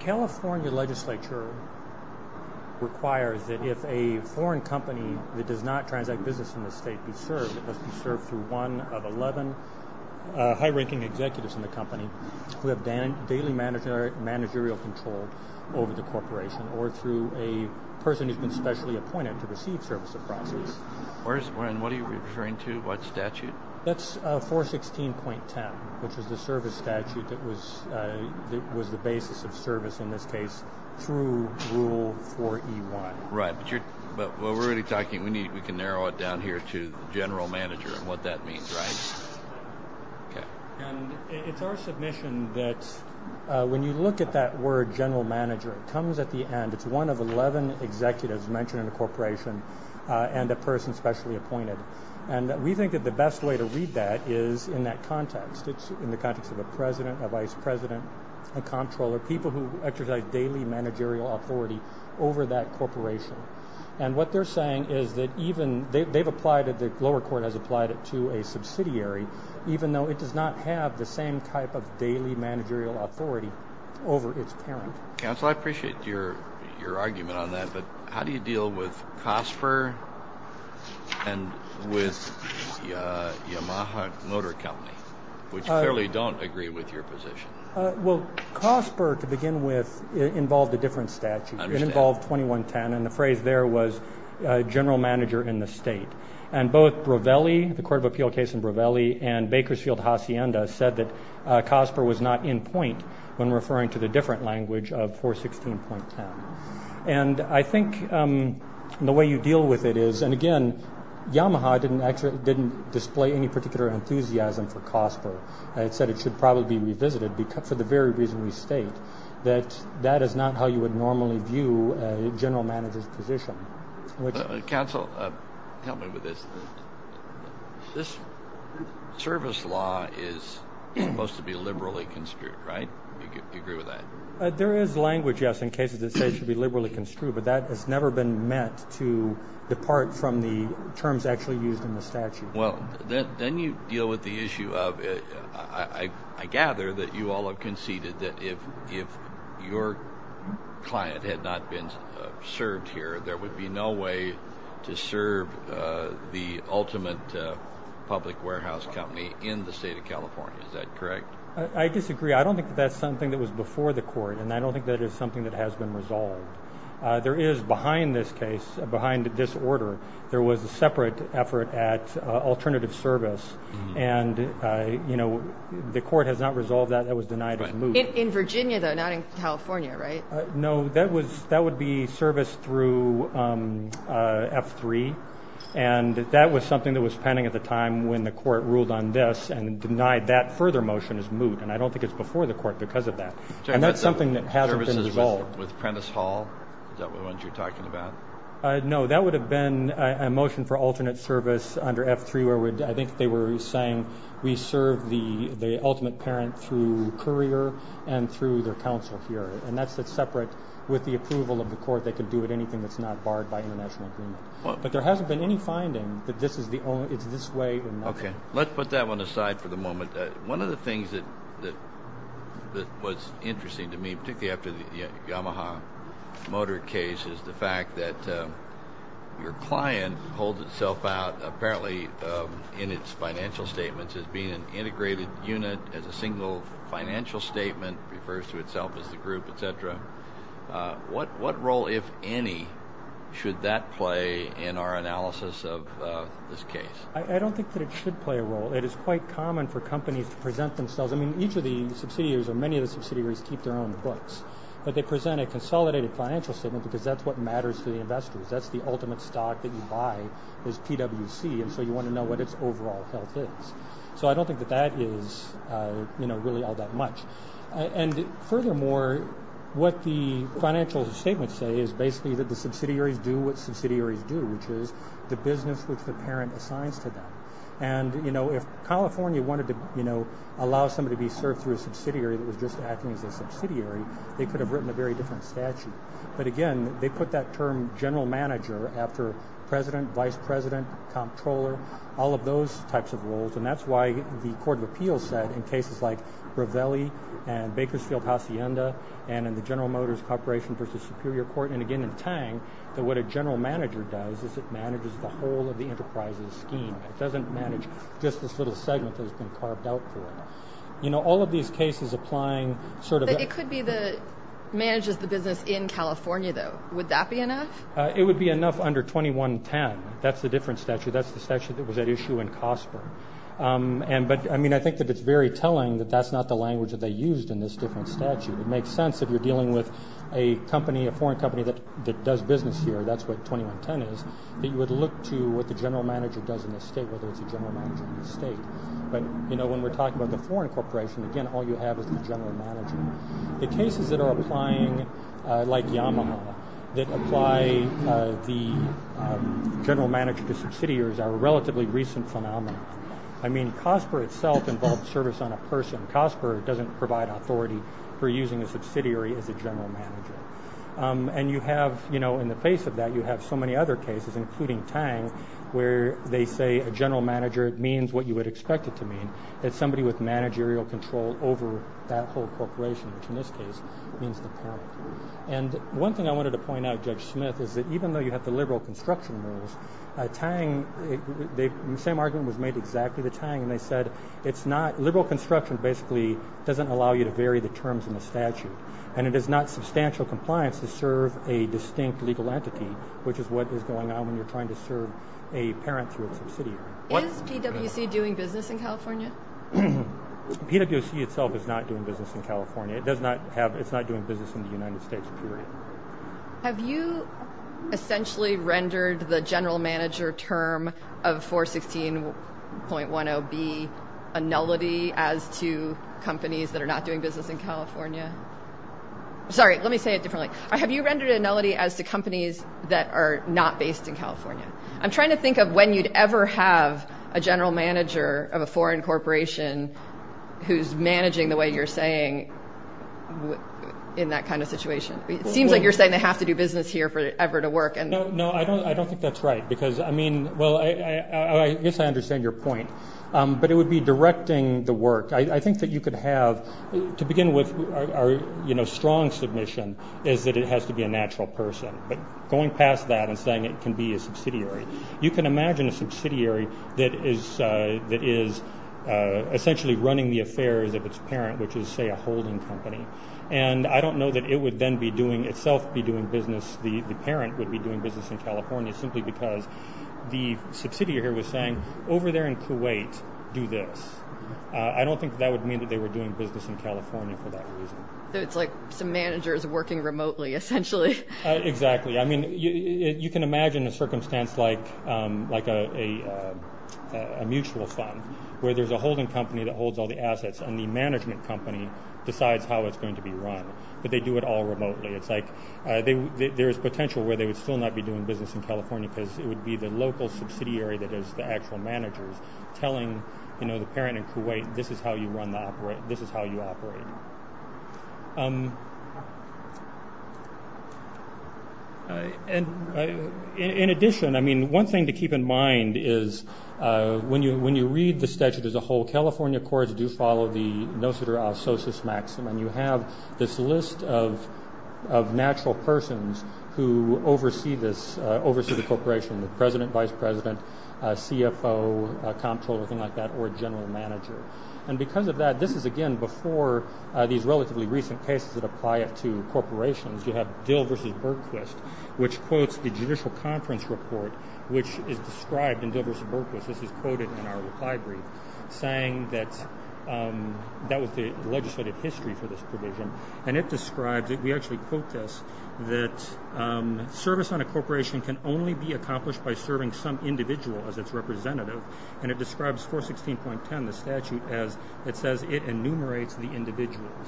California Legislature requires that if a foreign company that does not transact business in the state be served, it must be served through one of eleven high-ranking executives in the company who have daily managerial control over the corporation, or through a person who has been specially appointed to receive service across the state. What are you referring to? What statute? That's 416.10, which is the service statute that was the basis of service in this case through Rule 4E1. Right, but we're already talking, we can narrow it down here to the general manager and what that means, right? And it's our submission that when you look at that word general manager, it comes at the end, it's one of eleven executives mentioned in a corporation and a person specially appointed. And we think that the best way to read that is in that context, it's in the context of a president, a vice president, a comptroller, people who exercise daily managerial authority over that corporation. And what they're saying is that even, they've applied it, the lower court has applied it to a subsidiary, even though it does not have the same type of daily managerial authority over its parent. Counsel, I appreciate your argument on that, but how do you deal with COSPER and with Yamaha Motor Company, which clearly don't agree with your position? Well, COSPER to begin with involved a different statute. It involved 2110 and the phrase there was general manager in the state. And both Brevelli, the Court of Appeal case in Brevelli and Bakersfield-Hacienda said that COSPER was not in point when referring to the different language of 416.10. And I think the way you deal with it is, and again, Yamaha didn't actually, didn't display any particular enthusiasm for COSPER. It said it should probably be revisited for the very reason we state, that that is not how you would normally view a general manager's position. Counsel, help me with this. This service law is supposed to be liberally construed, right? Do you agree with that? There is language, yes, in cases that say it should be liberally construed, but that has never been meant to depart from the terms actually used in the statute. Well, then you deal with the issue of, I gather that you all have conceded that if your client had not been served here, there would be no way to serve the ultimate public warehouse company in the state of California, is that correct? I disagree. I don't think that's something that was before the court and I don't think that is something that has been resolved. There is, behind this case, behind this order, there was a separate effort at alternative service and, you know, the court has not resolved that, that was denied as moot. In Virginia though, not in California, right? No, that would be service through F3 and that was something that was pending at the time when the court ruled on this and denied that further motion as moot and I don't think it's before the court because of that and that's something that hasn't been resolved. With Prentice Hall? Is that what you're talking about? No, that would have been a motion for alternate service under F3 where I think they were saying we serve the ultimate parent through courier and through their counsel here and that's separate with the approval of the court, they could do with anything that's not barred by international agreement. But there hasn't been any finding that this is the only, it's this way and that way. Okay, let's put that one aside for the moment. One of the things that was interesting to me, particularly after the Yamaha motor case is the fact that your client holds itself out apparently in its financial statements as being an integrated unit as a single financial statement refers to itself as the group, etc. What role, if any, should that play in our analysis of this case? I don't think that it should play a role. It is quite common for companies to present themselves, I mean each of the subsidiaries or many of the subsidiaries keep their own books, but they present a consolidated financial statement because that's what matters to the investors. That's the ultimate stock that you buy is PWC and so you want to know what its overall health is. So I don't think that that is really all that much. And furthermore, what the financial statements say is basically that the subsidiaries do what subsidiaries do, which is the business which the parent assigns to them. And if California wanted to allow somebody to be served through a subsidiary that was just acting as a subsidiary, they could have written a very different statute. But again, they put that term general manager after president, vice president, comptroller, all of those types of roles and that's why the court of appeals said in cases like Revelli and Bakersfield-Hacienda and in the General Motors Corporation v. Superior Court and again in Tang that what a general manager does is it manages the whole of the enterprise's scheme. It doesn't manage just this little segment that has been carved out for it. You know, all of these cases applying sort of... It could be that it manages the business in California though. Would that be enough? It would be enough under 2110. That's a different statute. That's the statute that was at issue in Cosper. And but I mean, I think that it's very telling that that's not the language that they used in this different statute. It makes sense if you're dealing with a company, a foreign company that does business here, that's what 2110 is, that you would look to what the general manager does in the state, whether it's a general manager in the state. But you know, when we're talking about the foreign corporation, again, all you have is the general manager. The cases that are applying like Yamaha that apply the general manager to subsidiaries are a relatively recent phenomenon. I mean, Cosper itself involves service on a person. Cosper doesn't provide authority for using a subsidiary as a general manager. And you have, you know, in the face of that, you have so many other cases, including Tang, where they say a general manager means what you would expect it to mean, that somebody with managerial control over that whole corporation, which in this case means the parent. And one thing I wanted to point out, Judge Smith, is that even though you have the liberal construction rules, Tang, the same argument was made exactly to Tang, and they said it's not liberal construction basically doesn't allow you to vary the terms in the statute. And it is not substantial compliance to serve a distinct legal entity, which is what is going on when you're trying to serve a parent through a subsidiary. Is PwC doing business in California? PwC itself is not doing business in California. It does not have, it's not doing business in the United States, period. Have you essentially rendered the general manager term of 416.10B a nullity as to companies that are not doing business in California? Sorry, let me say it differently. Have you rendered a nullity as to companies that are not based in California? I'm trying to think of when you'd ever have a general manager of a foreign corporation who's managing the way you're saying in that kind of situation. It seems like you're saying they have to do business here for it ever to work. No, I don't think that's right, because I mean, well, I guess I understand your point, but it would be directing the work. I think that you could have, to begin with, our strong submission is that it has to be a natural person, but going past that and saying it can be a subsidiary, you can imagine a subsidiary that is essentially running the affairs of its parent, which is, say, a holding company. I don't know that it would then be doing, itself be doing business, the parent would be doing business in California, simply because the subsidiary here was saying, over there in Kuwait, do this. I don't think that would mean that they were doing business in California for that reason. So it's like some managers working remotely, essentially. Exactly. I mean, you can imagine a circumstance like a mutual fund, where there's a holding company that holds all the assets, and the management company decides how it's going to be run, but they do it all remotely. There is potential where they would still not be doing business in California, because it would be the local subsidiary that is the actual managers, telling the parent in Kuwait, this is how you run the, this is how you operate. In addition, I mean, one thing to keep in mind is, when you read the statute as a whole, California courts do follow the nociter ausocius maxim, and you have this list of natural persons who oversee this, oversee the corporation, the president, vice president, CFO, comptroller, things like that, or general manager. And because of that, this is again, before these relatively recent cases that apply it to corporations, you have Dill v. Bergquist, which quotes the judicial conference report, which is described in Dill v. Bergquist, this is quoted in our reply brief, saying that that was the legislative history for this provision, and it describes it, we actually quote this, that service on a corporation can only be accomplished by serving some individual as its representative, and it describes 416.10, the statute, as it says it enumerates the individuals.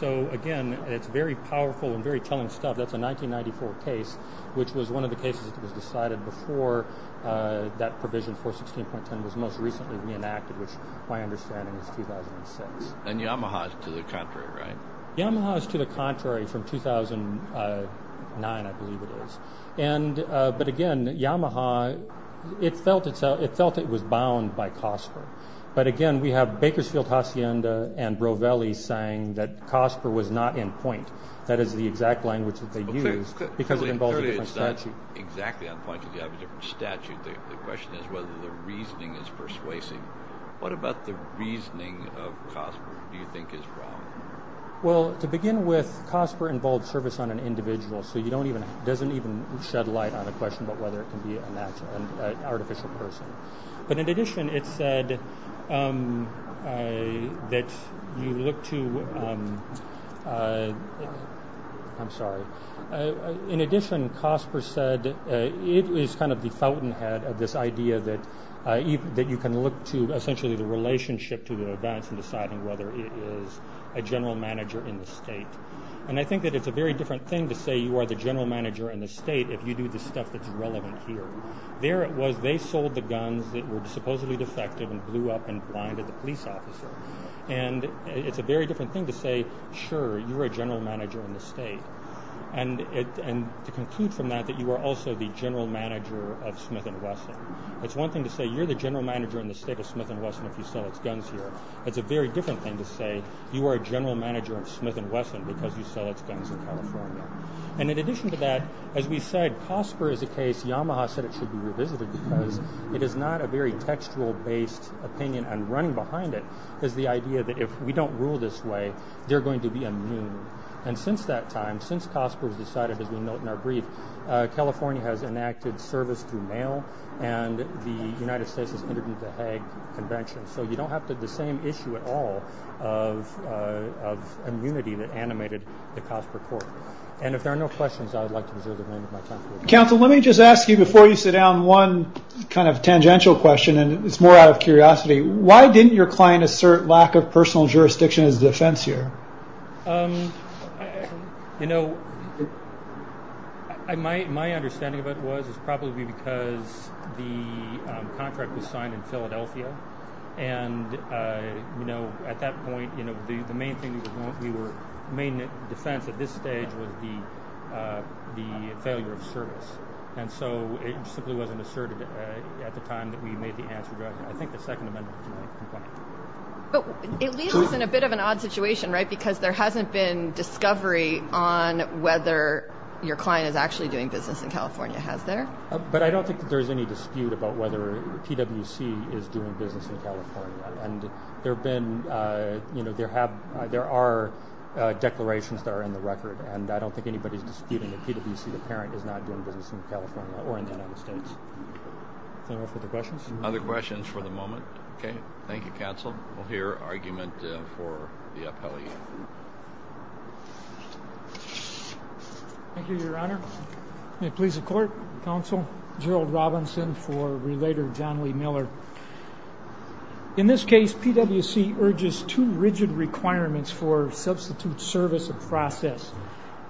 So, again, it's very powerful and very telling stuff, that's a 1994 case, which was one of the cases that was decided before that provision 416.10 was most recently reenacted, which my understanding is 2006. And Yamaha is to the contrary, right? 2009, I believe it is, but again, Yamaha, it felt it was bound by COSPR, but again, we have Bakersfield, Hacienda, and Brovelli saying that COSPR was not in point, that is the exact language that they used, because it involves a different statute. So it's not exactly on point, because you have a different statute, the question is whether the reasoning is persuasive. What about the reasoning of COSPR do you think is wrong? Well, to begin with, COSPR involves service on an individual, so it doesn't even shed light on a question about whether it can be an artificial person. But in addition, it said that you look to, I'm sorry, in addition, COSPR said it is kind of the fountainhead of this idea that you can look to essentially the relationship to advance in deciding whether it is a general manager in the state. And I think that it's a very different thing to say you are the general manager in the state if you do the stuff that's relevant here. There it was, they sold the guns that were supposedly defective and blew up and blinded the police officer. And it's a very different thing to say, sure, you're a general manager in the state. And to conclude from that, that you are also the general manager of Smith & Wesson. It's one thing to say you're the general manager in the state of Smith & Wesson if you sell its guns here. It's a very different thing to say you are a general manager of Smith & Wesson because you sell its guns in California. And in addition to that, as we said, COSPR is a case, Yamaha said it should be revisited because it is not a very textual based opinion and running behind it is the idea that if we don't rule this way, they're going to be immune. And since that time, since COSPR was decided, as we note in our brief, California has enacted service through mail and the United States has entered into the Hague Convention. So you don't have the same issue at all of immunity that animated the COSPR court. And if there are no questions, I would like to reserve the remainder of my time for questions. Counsel, let me just ask you before you sit down one kind of tangential question and it's more out of curiosity. Why didn't your client assert lack of personal jurisdiction as a defense here? Um, you know, my understanding of it was probably because the contract was signed in Philadelphia and you know, at that point, the main defense at this stage was the failure of service. And so it simply wasn't asserted at the time that we made the answer, I think the Second Amendment complaint. But it leaves us in a bit of an odd situation, right? Because there hasn't been discovery on whether your client is actually doing business in California, has there? But I don't think that there's any dispute about whether PwC is doing business in California. And there have been, you know, there have, there are declarations that are in the record and I don't think anybody's disputing that PwC, the parent, is not doing business in California or in the United States. Any more further questions? Other questions for the moment? Okay, thank you, counsel. We'll hear argument for the appellee. Thank you, your honor. May it please the court, counsel, Gerald Robinson for Relator John Lee Miller. In this case, PwC urges two rigid requirements for substitute service of process.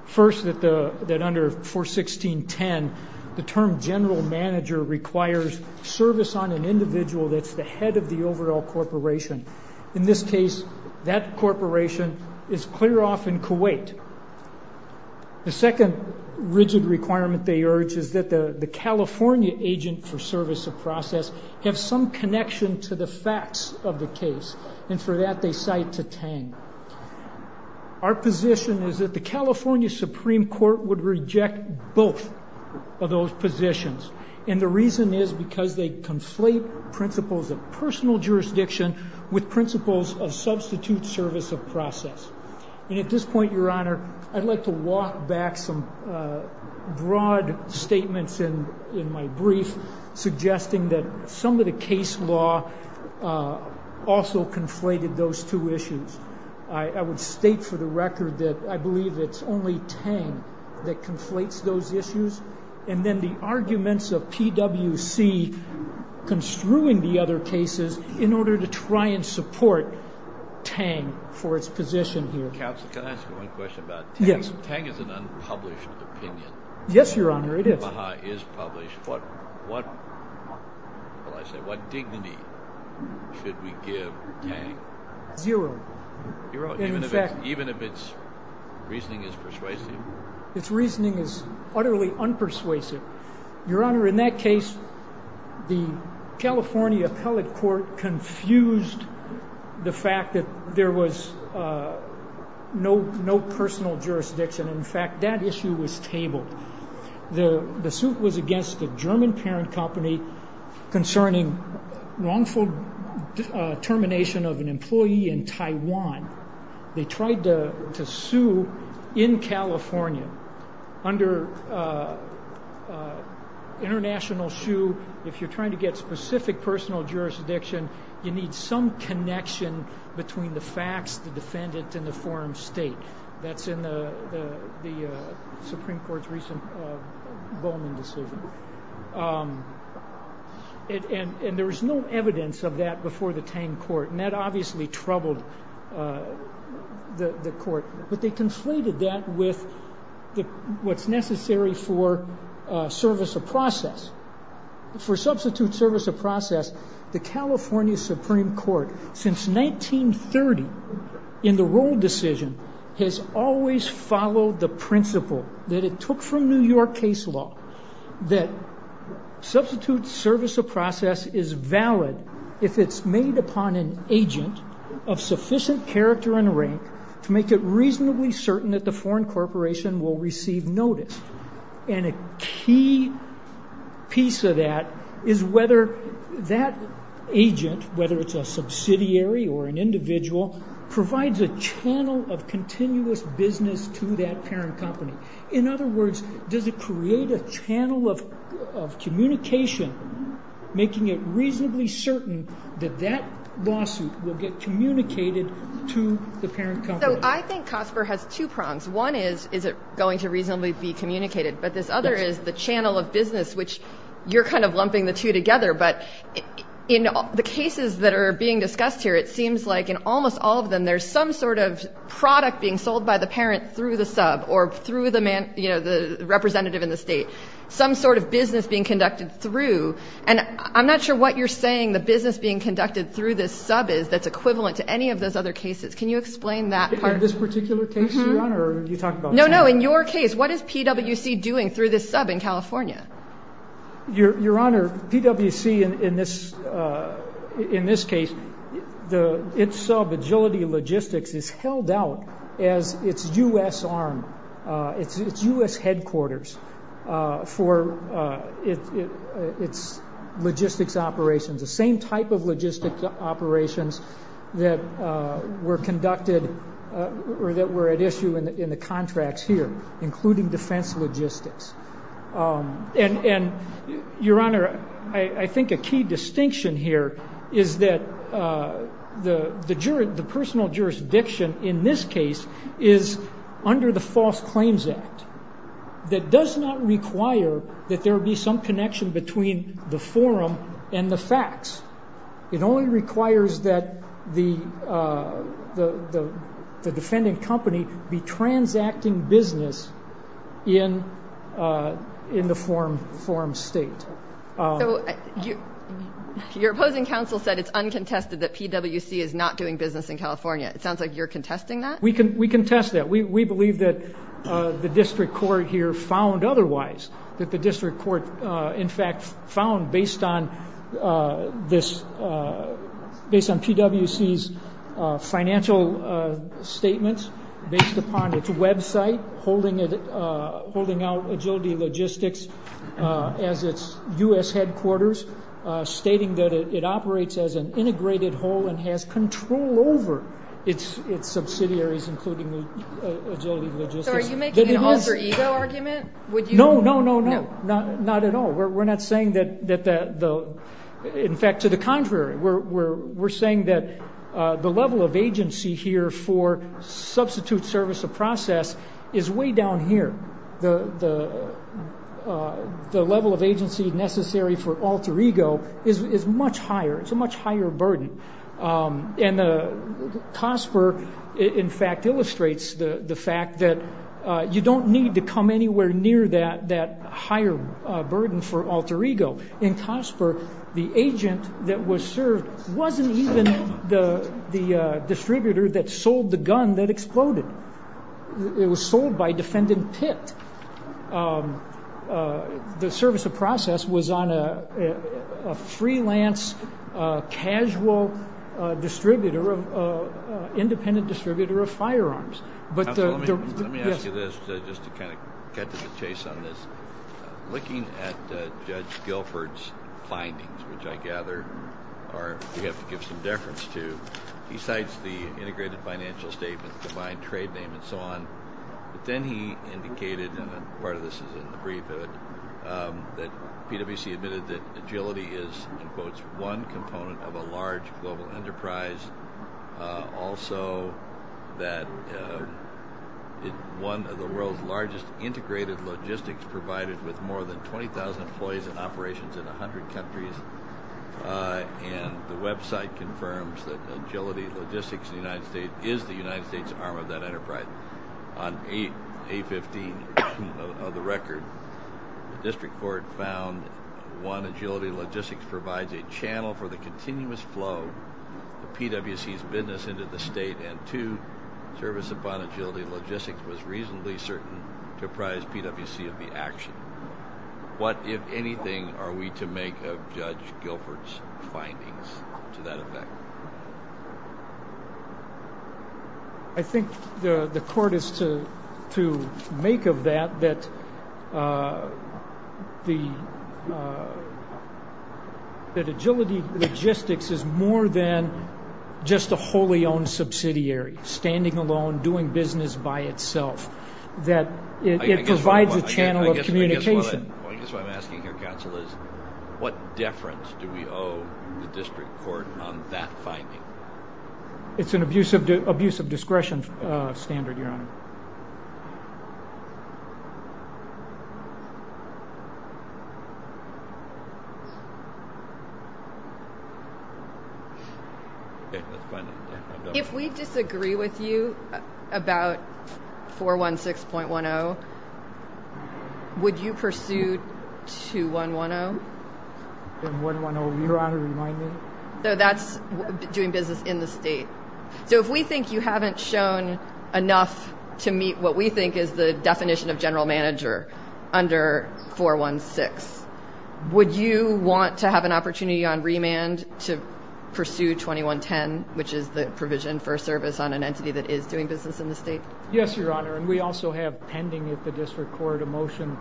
First, that the, that under 416.10, the term general manager requires service on an individual that's the head of the overall corporation. In this case, that corporation is clear off in Kuwait. The second rigid requirement they urge is that the California agent for service of process have some connection to the facts of the case. And for that, they cite to Tang. Our position is that the California Supreme Court would reject both of those positions. And the reason is because they conflate principles of personal jurisdiction with principles of substitute service of process. And at this point, your honor, I'd like to walk back some broad statements in my brief, suggesting that some of the case law also conflated those two issues. I would state for the record that I believe it's only Tang that conflates those issues. And then the arguments of PwC construing the other cases in order to try and support Tang for its position here. Counsel, can I ask you one question about Tang? Yes. Tang is an unpublished opinion. Yes, your honor, it is. Omaha is published. What, what, well, I say, what dignity should we give Tang? Zero. Even if its reasoning is persuasive? Its reasoning is utterly unpersuasive. Your honor, in that case, the California appellate court confused the fact that there was no, no personal jurisdiction. In fact, that issue was tabled. The suit was against a German parent company concerning wrongful termination of an employee in Taiwan. They tried to sue in California under international shoe. If you're trying to get specific personal jurisdiction, you need some connection between the facts, the defendant, and the forum state. That's in the Supreme Court's recent Bowman decision. And there was no evidence of that before the Tang court. That obviously troubled the court. But they conflated that with what's necessary for service of process. For substitute service of process, the California Supreme Court, since 1930, in the roll decision, has always followed the principle that it took from New York case law, that substitute service of process is valid if it's made upon an agent of sufficient character and rank to make it reasonably certain that the foreign corporation will receive notice. And a key piece of that is whether that agent, whether it's a subsidiary or an individual, provides a channel of continuous business to that parent company. In other words, does it create a channel of communication, making it reasonably certain that that lawsuit will get communicated to the parent company? So I think COSPER has two prongs. One is, is it going to reasonably be communicated? But this other is the channel of business, which you're kind of lumping the two together. But in the cases that are being discussed here, it seems like in almost all of them, there's some sort of product being sold by the parent through the sub or through the man, you know, the representative in the state. Some sort of business being conducted through. And I'm not sure what you're saying the business being conducted through this sub is that's equivalent to any of those other cases. Can you explain that part? In this particular case, Your Honor, or did you talk about some other? No, no. In your case, what is PWC doing through this sub in California? Your Honor, PWC in this in this case, the sub agility logistics is held out as its U.S. arm. It's U.S. headquarters for its logistics operations, the same type of logistics operations that were conducted or that were at issue in the contracts here, including defense logistics. And, Your Honor, I think a key distinction here is that the juror, the personal jurisdiction in this case is under the False Claims Act that does not require that there be some connection between the forum and the facts. It only requires that the the the defendant company be transacting business in in the forum forum state. Your opposing counsel said it's uncontested that PWC is not doing business in California. It sounds like you're contesting that. We can we contest that. We believe that the district court here found otherwise that the district court, in fact, found based on this based on PWC's financial statements based upon its website, holding it holding out agility logistics as its U.S. headquarters, stating that it operates as an integrated whole and has control over its its subsidiaries, including agility logistics. So are you making an alter ego argument? Would you? No, no, no, no, no, not at all. We're not saying that that the in fact, to the contrary, we're we're we're saying that the level of agency here for substitute service of process is way down here. The the the level of agency necessary for alter ego is much higher. It's a much higher burden. And Cosper, in fact, illustrates the fact that you don't need to come anywhere near that that higher burden for alter ego in Cosper. The agent that was served wasn't even the the distributor that sold the gun that exploded. It was sold by defendant Pitt. And the service of process was on a freelance casual distributor of independent distributor of firearms. But let me ask you this, just to kind of get to the chase on this, looking at Judge Guilford's findings, which I gather are we have to give some deference to besides the integrated financial statements, combined trade name and so on. But then he indicated and part of this is in the brief that PwC admitted that agility is, in quotes, one component of a large global enterprise. Also, that it's one of the world's largest integrated logistics provided with more than 20,000 employees and operations in 100 countries. And the website confirms that agility logistics in the United States is the United States arm of that enterprise on a 15 of the record. The district court found one agility logistics provides a channel for the continuous flow of PwC's business into the state and to service upon agility logistics was reasonably certain to prize PwC of the action. What, if anything, are we to make of Judge Guilford's findings to that effect? I think the court is to make of that that the agility logistics is more than just a wholly owned subsidiary standing alone doing business by itself. That it provides a channel of communication. I guess what I'm asking here, counsel, is what deference do we owe the district court on that finding? It's an abuse of abuse of discretion standard, Your Honor. Okay, let's find out. If we disagree with you about 416.10, would you pursue 2110? And 110, Your Honor, remind me. So that's doing business in the state. So if we think you haven't shown enough to meet what we think is the definition of general manager under 416, would you want to have an opportunity on remand to pursue 2110, which is the provision for service on an entity that is doing business in the state? Yes, Your Honor, and we also have pending at the district court a motion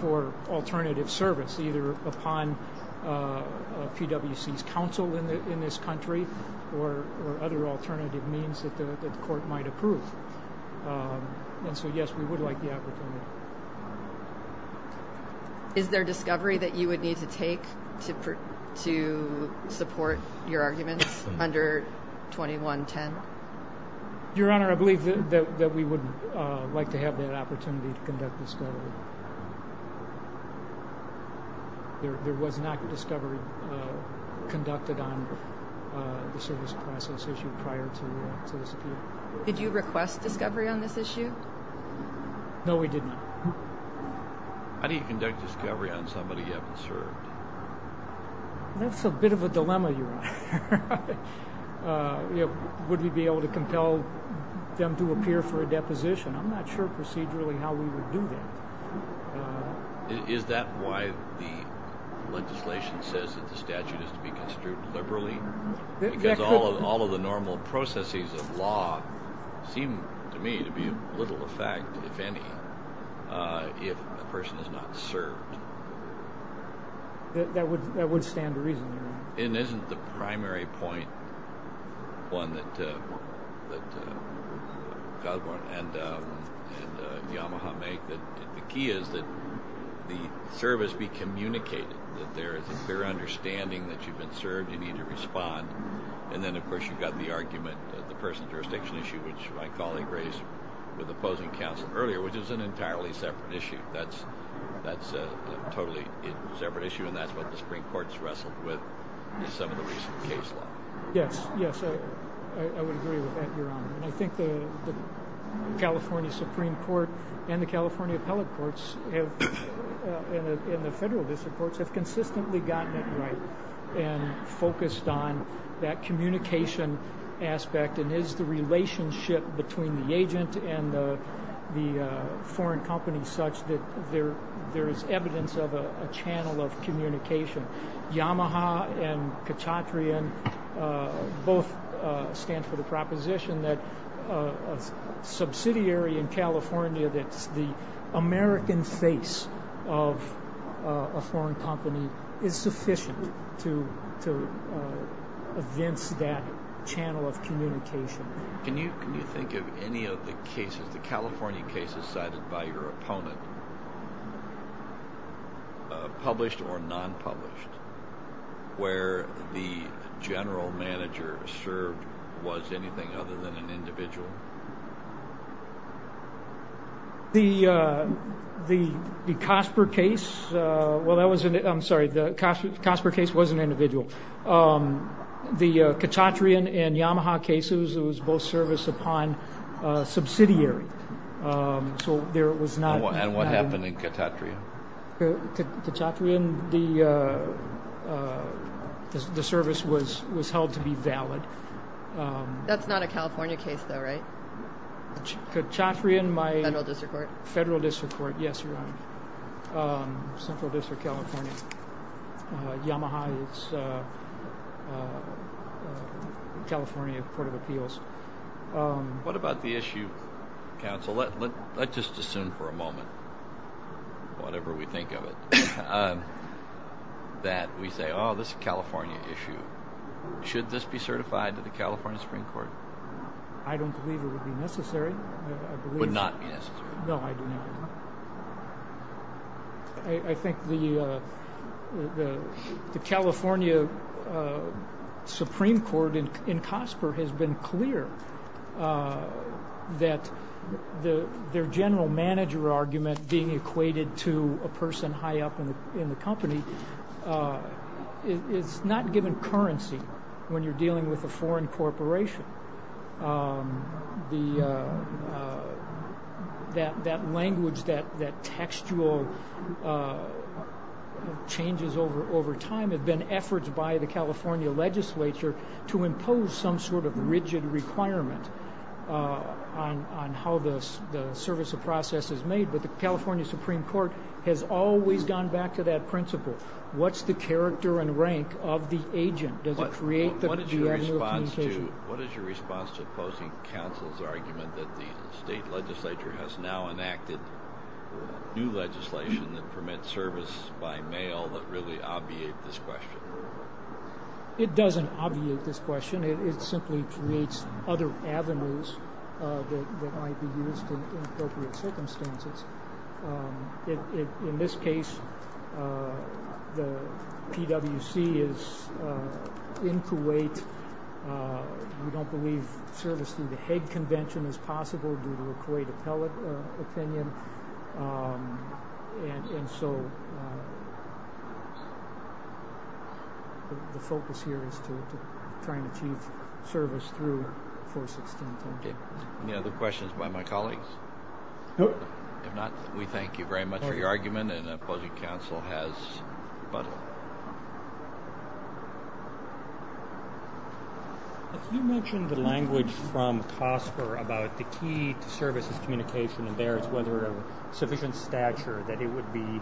for alternative service, either upon PwC's counsel in this country or other alternative means that the court might approve. And so, yes, we would like the opportunity. Is there discovery that you would need to take to support your arguments under 2110? Your Honor, I believe that we would like to have that opportunity to conduct discovery. There was not discovery conducted on the service process issue prior to this appeal. Did you request discovery on this issue? No, we did not. How do you conduct discovery on somebody you haven't served? That's a bit of a dilemma, Your Honor. Would we be able to compel them to appear for a deposition? I'm not sure procedurally how we would do that. Uh, is that why the legislation says that the statute is to be construed liberally? Because all of the normal processes of law seem to me to be of little effect, if any, if a person is not served. That would stand to reason, Your Honor. It isn't the primary point that Cosborne and Yamaha make. The key is that the service be communicated, that there is a clear understanding that you've been served, you need to respond. And then, of course, you've got the argument, the person jurisdiction issue, which my colleague raised with opposing counsel earlier, which is an entirely separate issue. That's a totally separate issue, and that's what the Supreme Court's wrestled with. Some of the recent case law. Yes, yes, I would agree with that, Your Honor. And I think the California Supreme Court and the California Appellate Courts and the Federal District Courts have consistently gotten it right and focused on that communication aspect. And is the relationship between the agent and the foreign company such that there is evidence of a channel of communication? Yamaha and Kachatrian both stand for the proposition that a subsidiary in California, that's the American face of a foreign company, is sufficient to evince that channel of communication. Can you think of any of the cases, the California cases cited by your opponent, published or non-published, where the general manager served was anything other than an individual? The Kasper case, well, that was, I'm sorry, the Kasper case was an individual. The Kachatrian and Yamaha cases, it was both serviced upon a subsidiary. So there was not... And what happened in Kachatrian? Kachatrian, the service was held to be valid. That's not a California case though, right? Kachatrian, my... Federal District Court. Federal District Court, yes, Your Honor. Central District, California. Yamaha, it's California Court of Appeals. What about the issue, Counsel, let's just assume for a moment, whatever we think of it, that we say, oh, this is a California issue. Should this be certified to the California Supreme Court? I don't believe it would be necessary, I believe... Would not be necessary? No, I do not. I think the California Supreme Court in Kasper has been clear that their general manager argument being equated to a person high up in the company is not given currency when you're dealing with a foreign corporation. That language, that textual changes over time have been efforts by the California legislature to impose some sort of rigid requirement on how the service of process is made. But the California Supreme Court has always gone back to that principle. What's the character and rank of the agent? Does it create the... What is your response to opposing counsel's argument that the state legislature has now enacted new legislation that permits service by mail that really obviate this question? It doesn't obviate this question. It simply creates other avenues that might be used in appropriate circumstances. In this case, the PWC is in Kuwait. We don't believe service through the Hague Convention is possible due to a Kuwait appellate opinion. And so the focus here is to try and achieve service through 416. Any other questions by my colleagues? Nope. We thank you very much for your argument and opposing counsel has... If you mentioned the language from COSPER about the key to services communication and there is whether a sufficient stature that it would be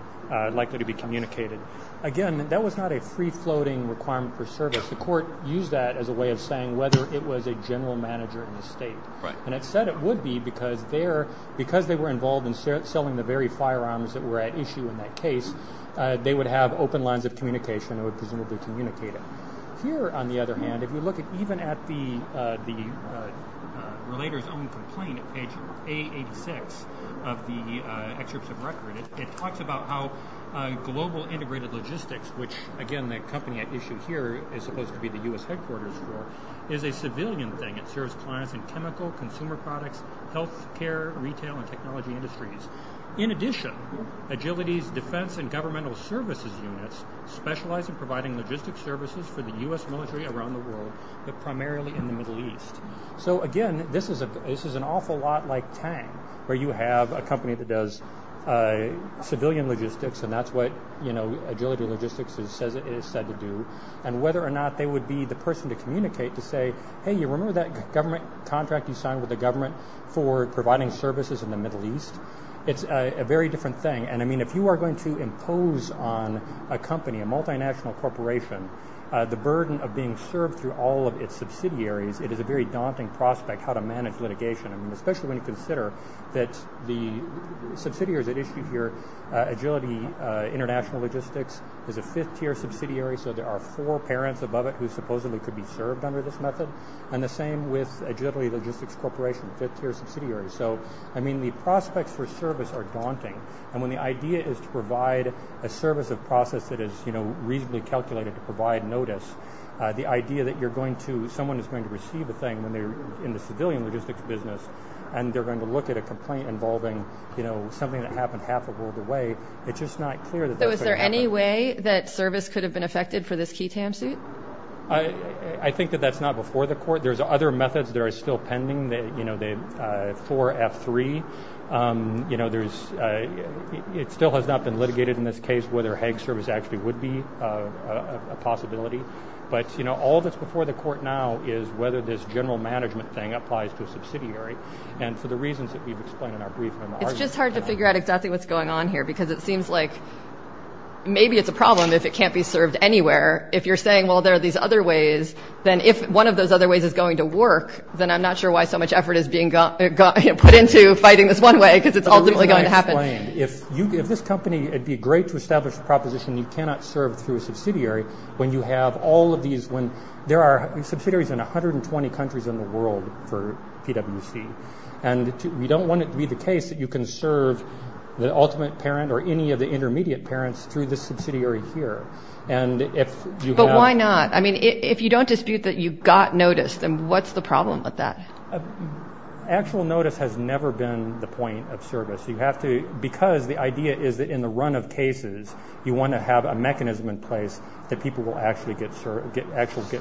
likely to be communicated. Again, that was not a free-floating requirement for service. The court used that as a way of saying whether it was a general manager in the state. And it said it would be because they were involved in selling the very firearms that were at issue in that case. They would have open lines of communication and would presumably communicate it. Here, on the other hand, if you look at even at the relator's own complaint at page A86 of the excerpts of record, it talks about how global integrated logistics, which again the company at issue here is supposed to be the US headquarters for, is a civilian thing. It serves clients in chemical, consumer products, healthcare, retail, and technology industries. In addition, Agility's defense and governmental services units specialize in providing logistics services for the US military around the world, but primarily in the Middle East. So again, this is an awful lot like Tang, where you have a company that does civilian logistics and that's what Agility Logistics is said to do. And whether or not they would be the person to communicate to say, hey, you remember that contract you signed with the government for providing services in the Middle East? It's a very different thing. And I mean, if you are going to impose on a company, a multinational corporation, the burden of being served through all of its subsidiaries, it is a very daunting prospect how to manage litigation. I mean, especially when you consider that the subsidiaries at issue here, Agility International Logistics, is a fifth tier subsidiary. So there are four parents above it who supposedly could be served under this method. And the same with Agility Logistics Corporation, fifth tier subsidiary. So I mean, the prospects for service are daunting. And when the idea is to provide a service of process that is, you know, reasonably calculated to provide notice, the idea that you're going to, someone is going to receive a thing when they're in the civilian logistics business, and they're going to look at a complaint involving, you know, something that happened half a world away. It's just not clear that... So is there any way that service could have been affected for this key TAM suit? I think that that's not before the court. There's other methods that are still pending that, you know, the 4F3, you know, there's, it still has not been litigated in this case, whether Hague service actually would be a possibility. But, you know, all that's before the court now is whether this general management thing applies to a subsidiary. And for the reasons that we've explained in our brief... It's just hard to figure out exactly what's going on here, because it seems like maybe it's a problem if it can't be served anywhere. If you're saying, well, there are these other ways, then if one of those other ways is going to work, then I'm not sure why so much effort is being put into fighting this one way, because it's ultimately going to happen. If this company, it'd be great to establish a proposition you cannot serve through a subsidiary when you have all of these, when there are subsidiaries in 120 countries in the world for PwC. And we don't want it to be the case that you can serve the ultimate parent or any of the intermediate parents through this subsidiary here. And if you have... But why not? I mean, if you don't dispute that you got noticed, then what's the problem with that? Actual notice has never been the point of service. You have to... Because the idea is that in the run of cases, you want to have a mechanism in place that people will actually get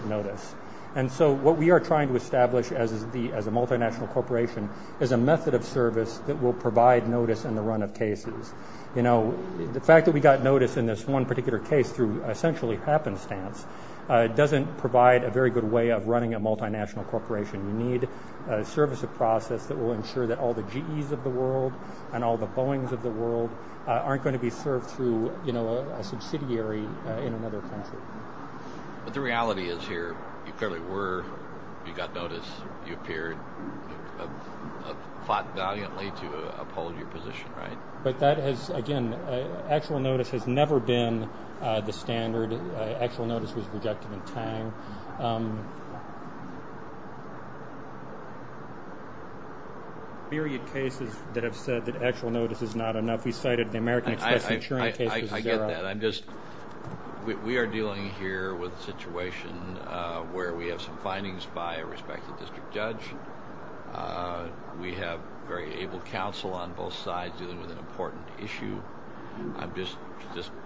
notice. And so what we are trying to establish as a multinational corporation is a method of service that will provide notice in the run of cases. You know, the fact that we got notice in this one particular case through essentially happenstance doesn't provide a very good way of running a multinational corporation. You need a service of process that will ensure that all the GEs of the world and all the Boeings of the world aren't going to be served through a subsidiary in another country. But the reality is here, you clearly were, you got notice, you appeared, fought valiantly to uphold your position, right? But that has, again, actual notice has never been the standard. Actual notice was rejected in Tang. Period cases that have said that actual notice is not enough. We cited the American Express insurance case. I get that. I'm just, we are dealing here with a situation where we have some findings by a respected district judge. We have very able counsel on both sides dealing with an important issue. I'm just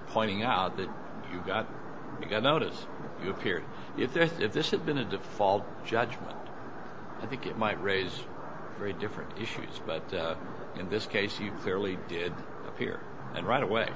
pointing out that you got notice. You appeared. If this had been a default judgment, I think it might raise very different issues. But in this case, you clearly did appear and right away.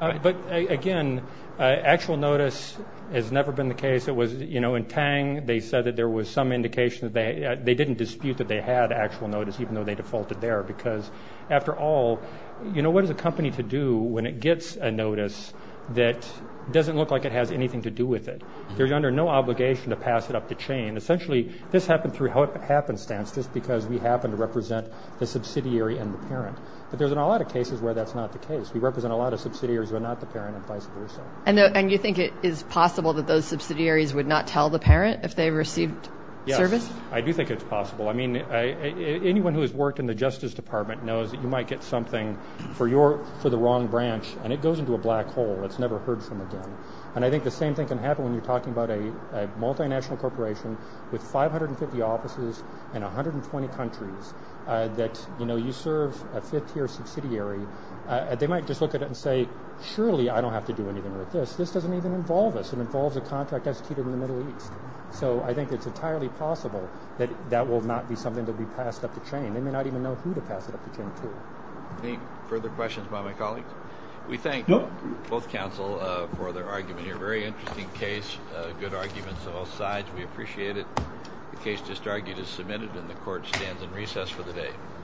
But again, actual notice has never been the case. In Tang, they said that there was some indication that they didn't dispute that they had actual notice, even though they defaulted there. Because after all, what does a company to do when it gets a notice that doesn't look like it has anything to do with it? They're under no obligation to pass it up the chain. Essentially, this happened through happenstance, just because we happen to represent the subsidiary and the parent. But there's a lot of cases where that's not the case. We represent a lot of subsidiaries who are not the parent and vice versa. And you think it is possible that those subsidiaries would not tell the parent if they received service? I do think it's possible. I mean, anyone who has worked in the Justice Department knows that you might get something for your for the wrong branch and it goes into a black hole that's never heard from again. And I think the same thing can happen when you're talking about a multinational corporation with 550 offices in 120 countries that you serve a fifth tier subsidiary. They might just look at it and say, surely I don't have to do anything with this. This doesn't even involve us. It involves a contract executed in the Middle East. So I think it's entirely possible that that will not be something to be passed up the chain. They may not even know who to pass it up the chain to. Any further questions by my colleagues? We thank both counsel for their argument. A very interesting case, good arguments on both sides. We appreciate it. The case just argued is submitted and the court stands in recess for the day.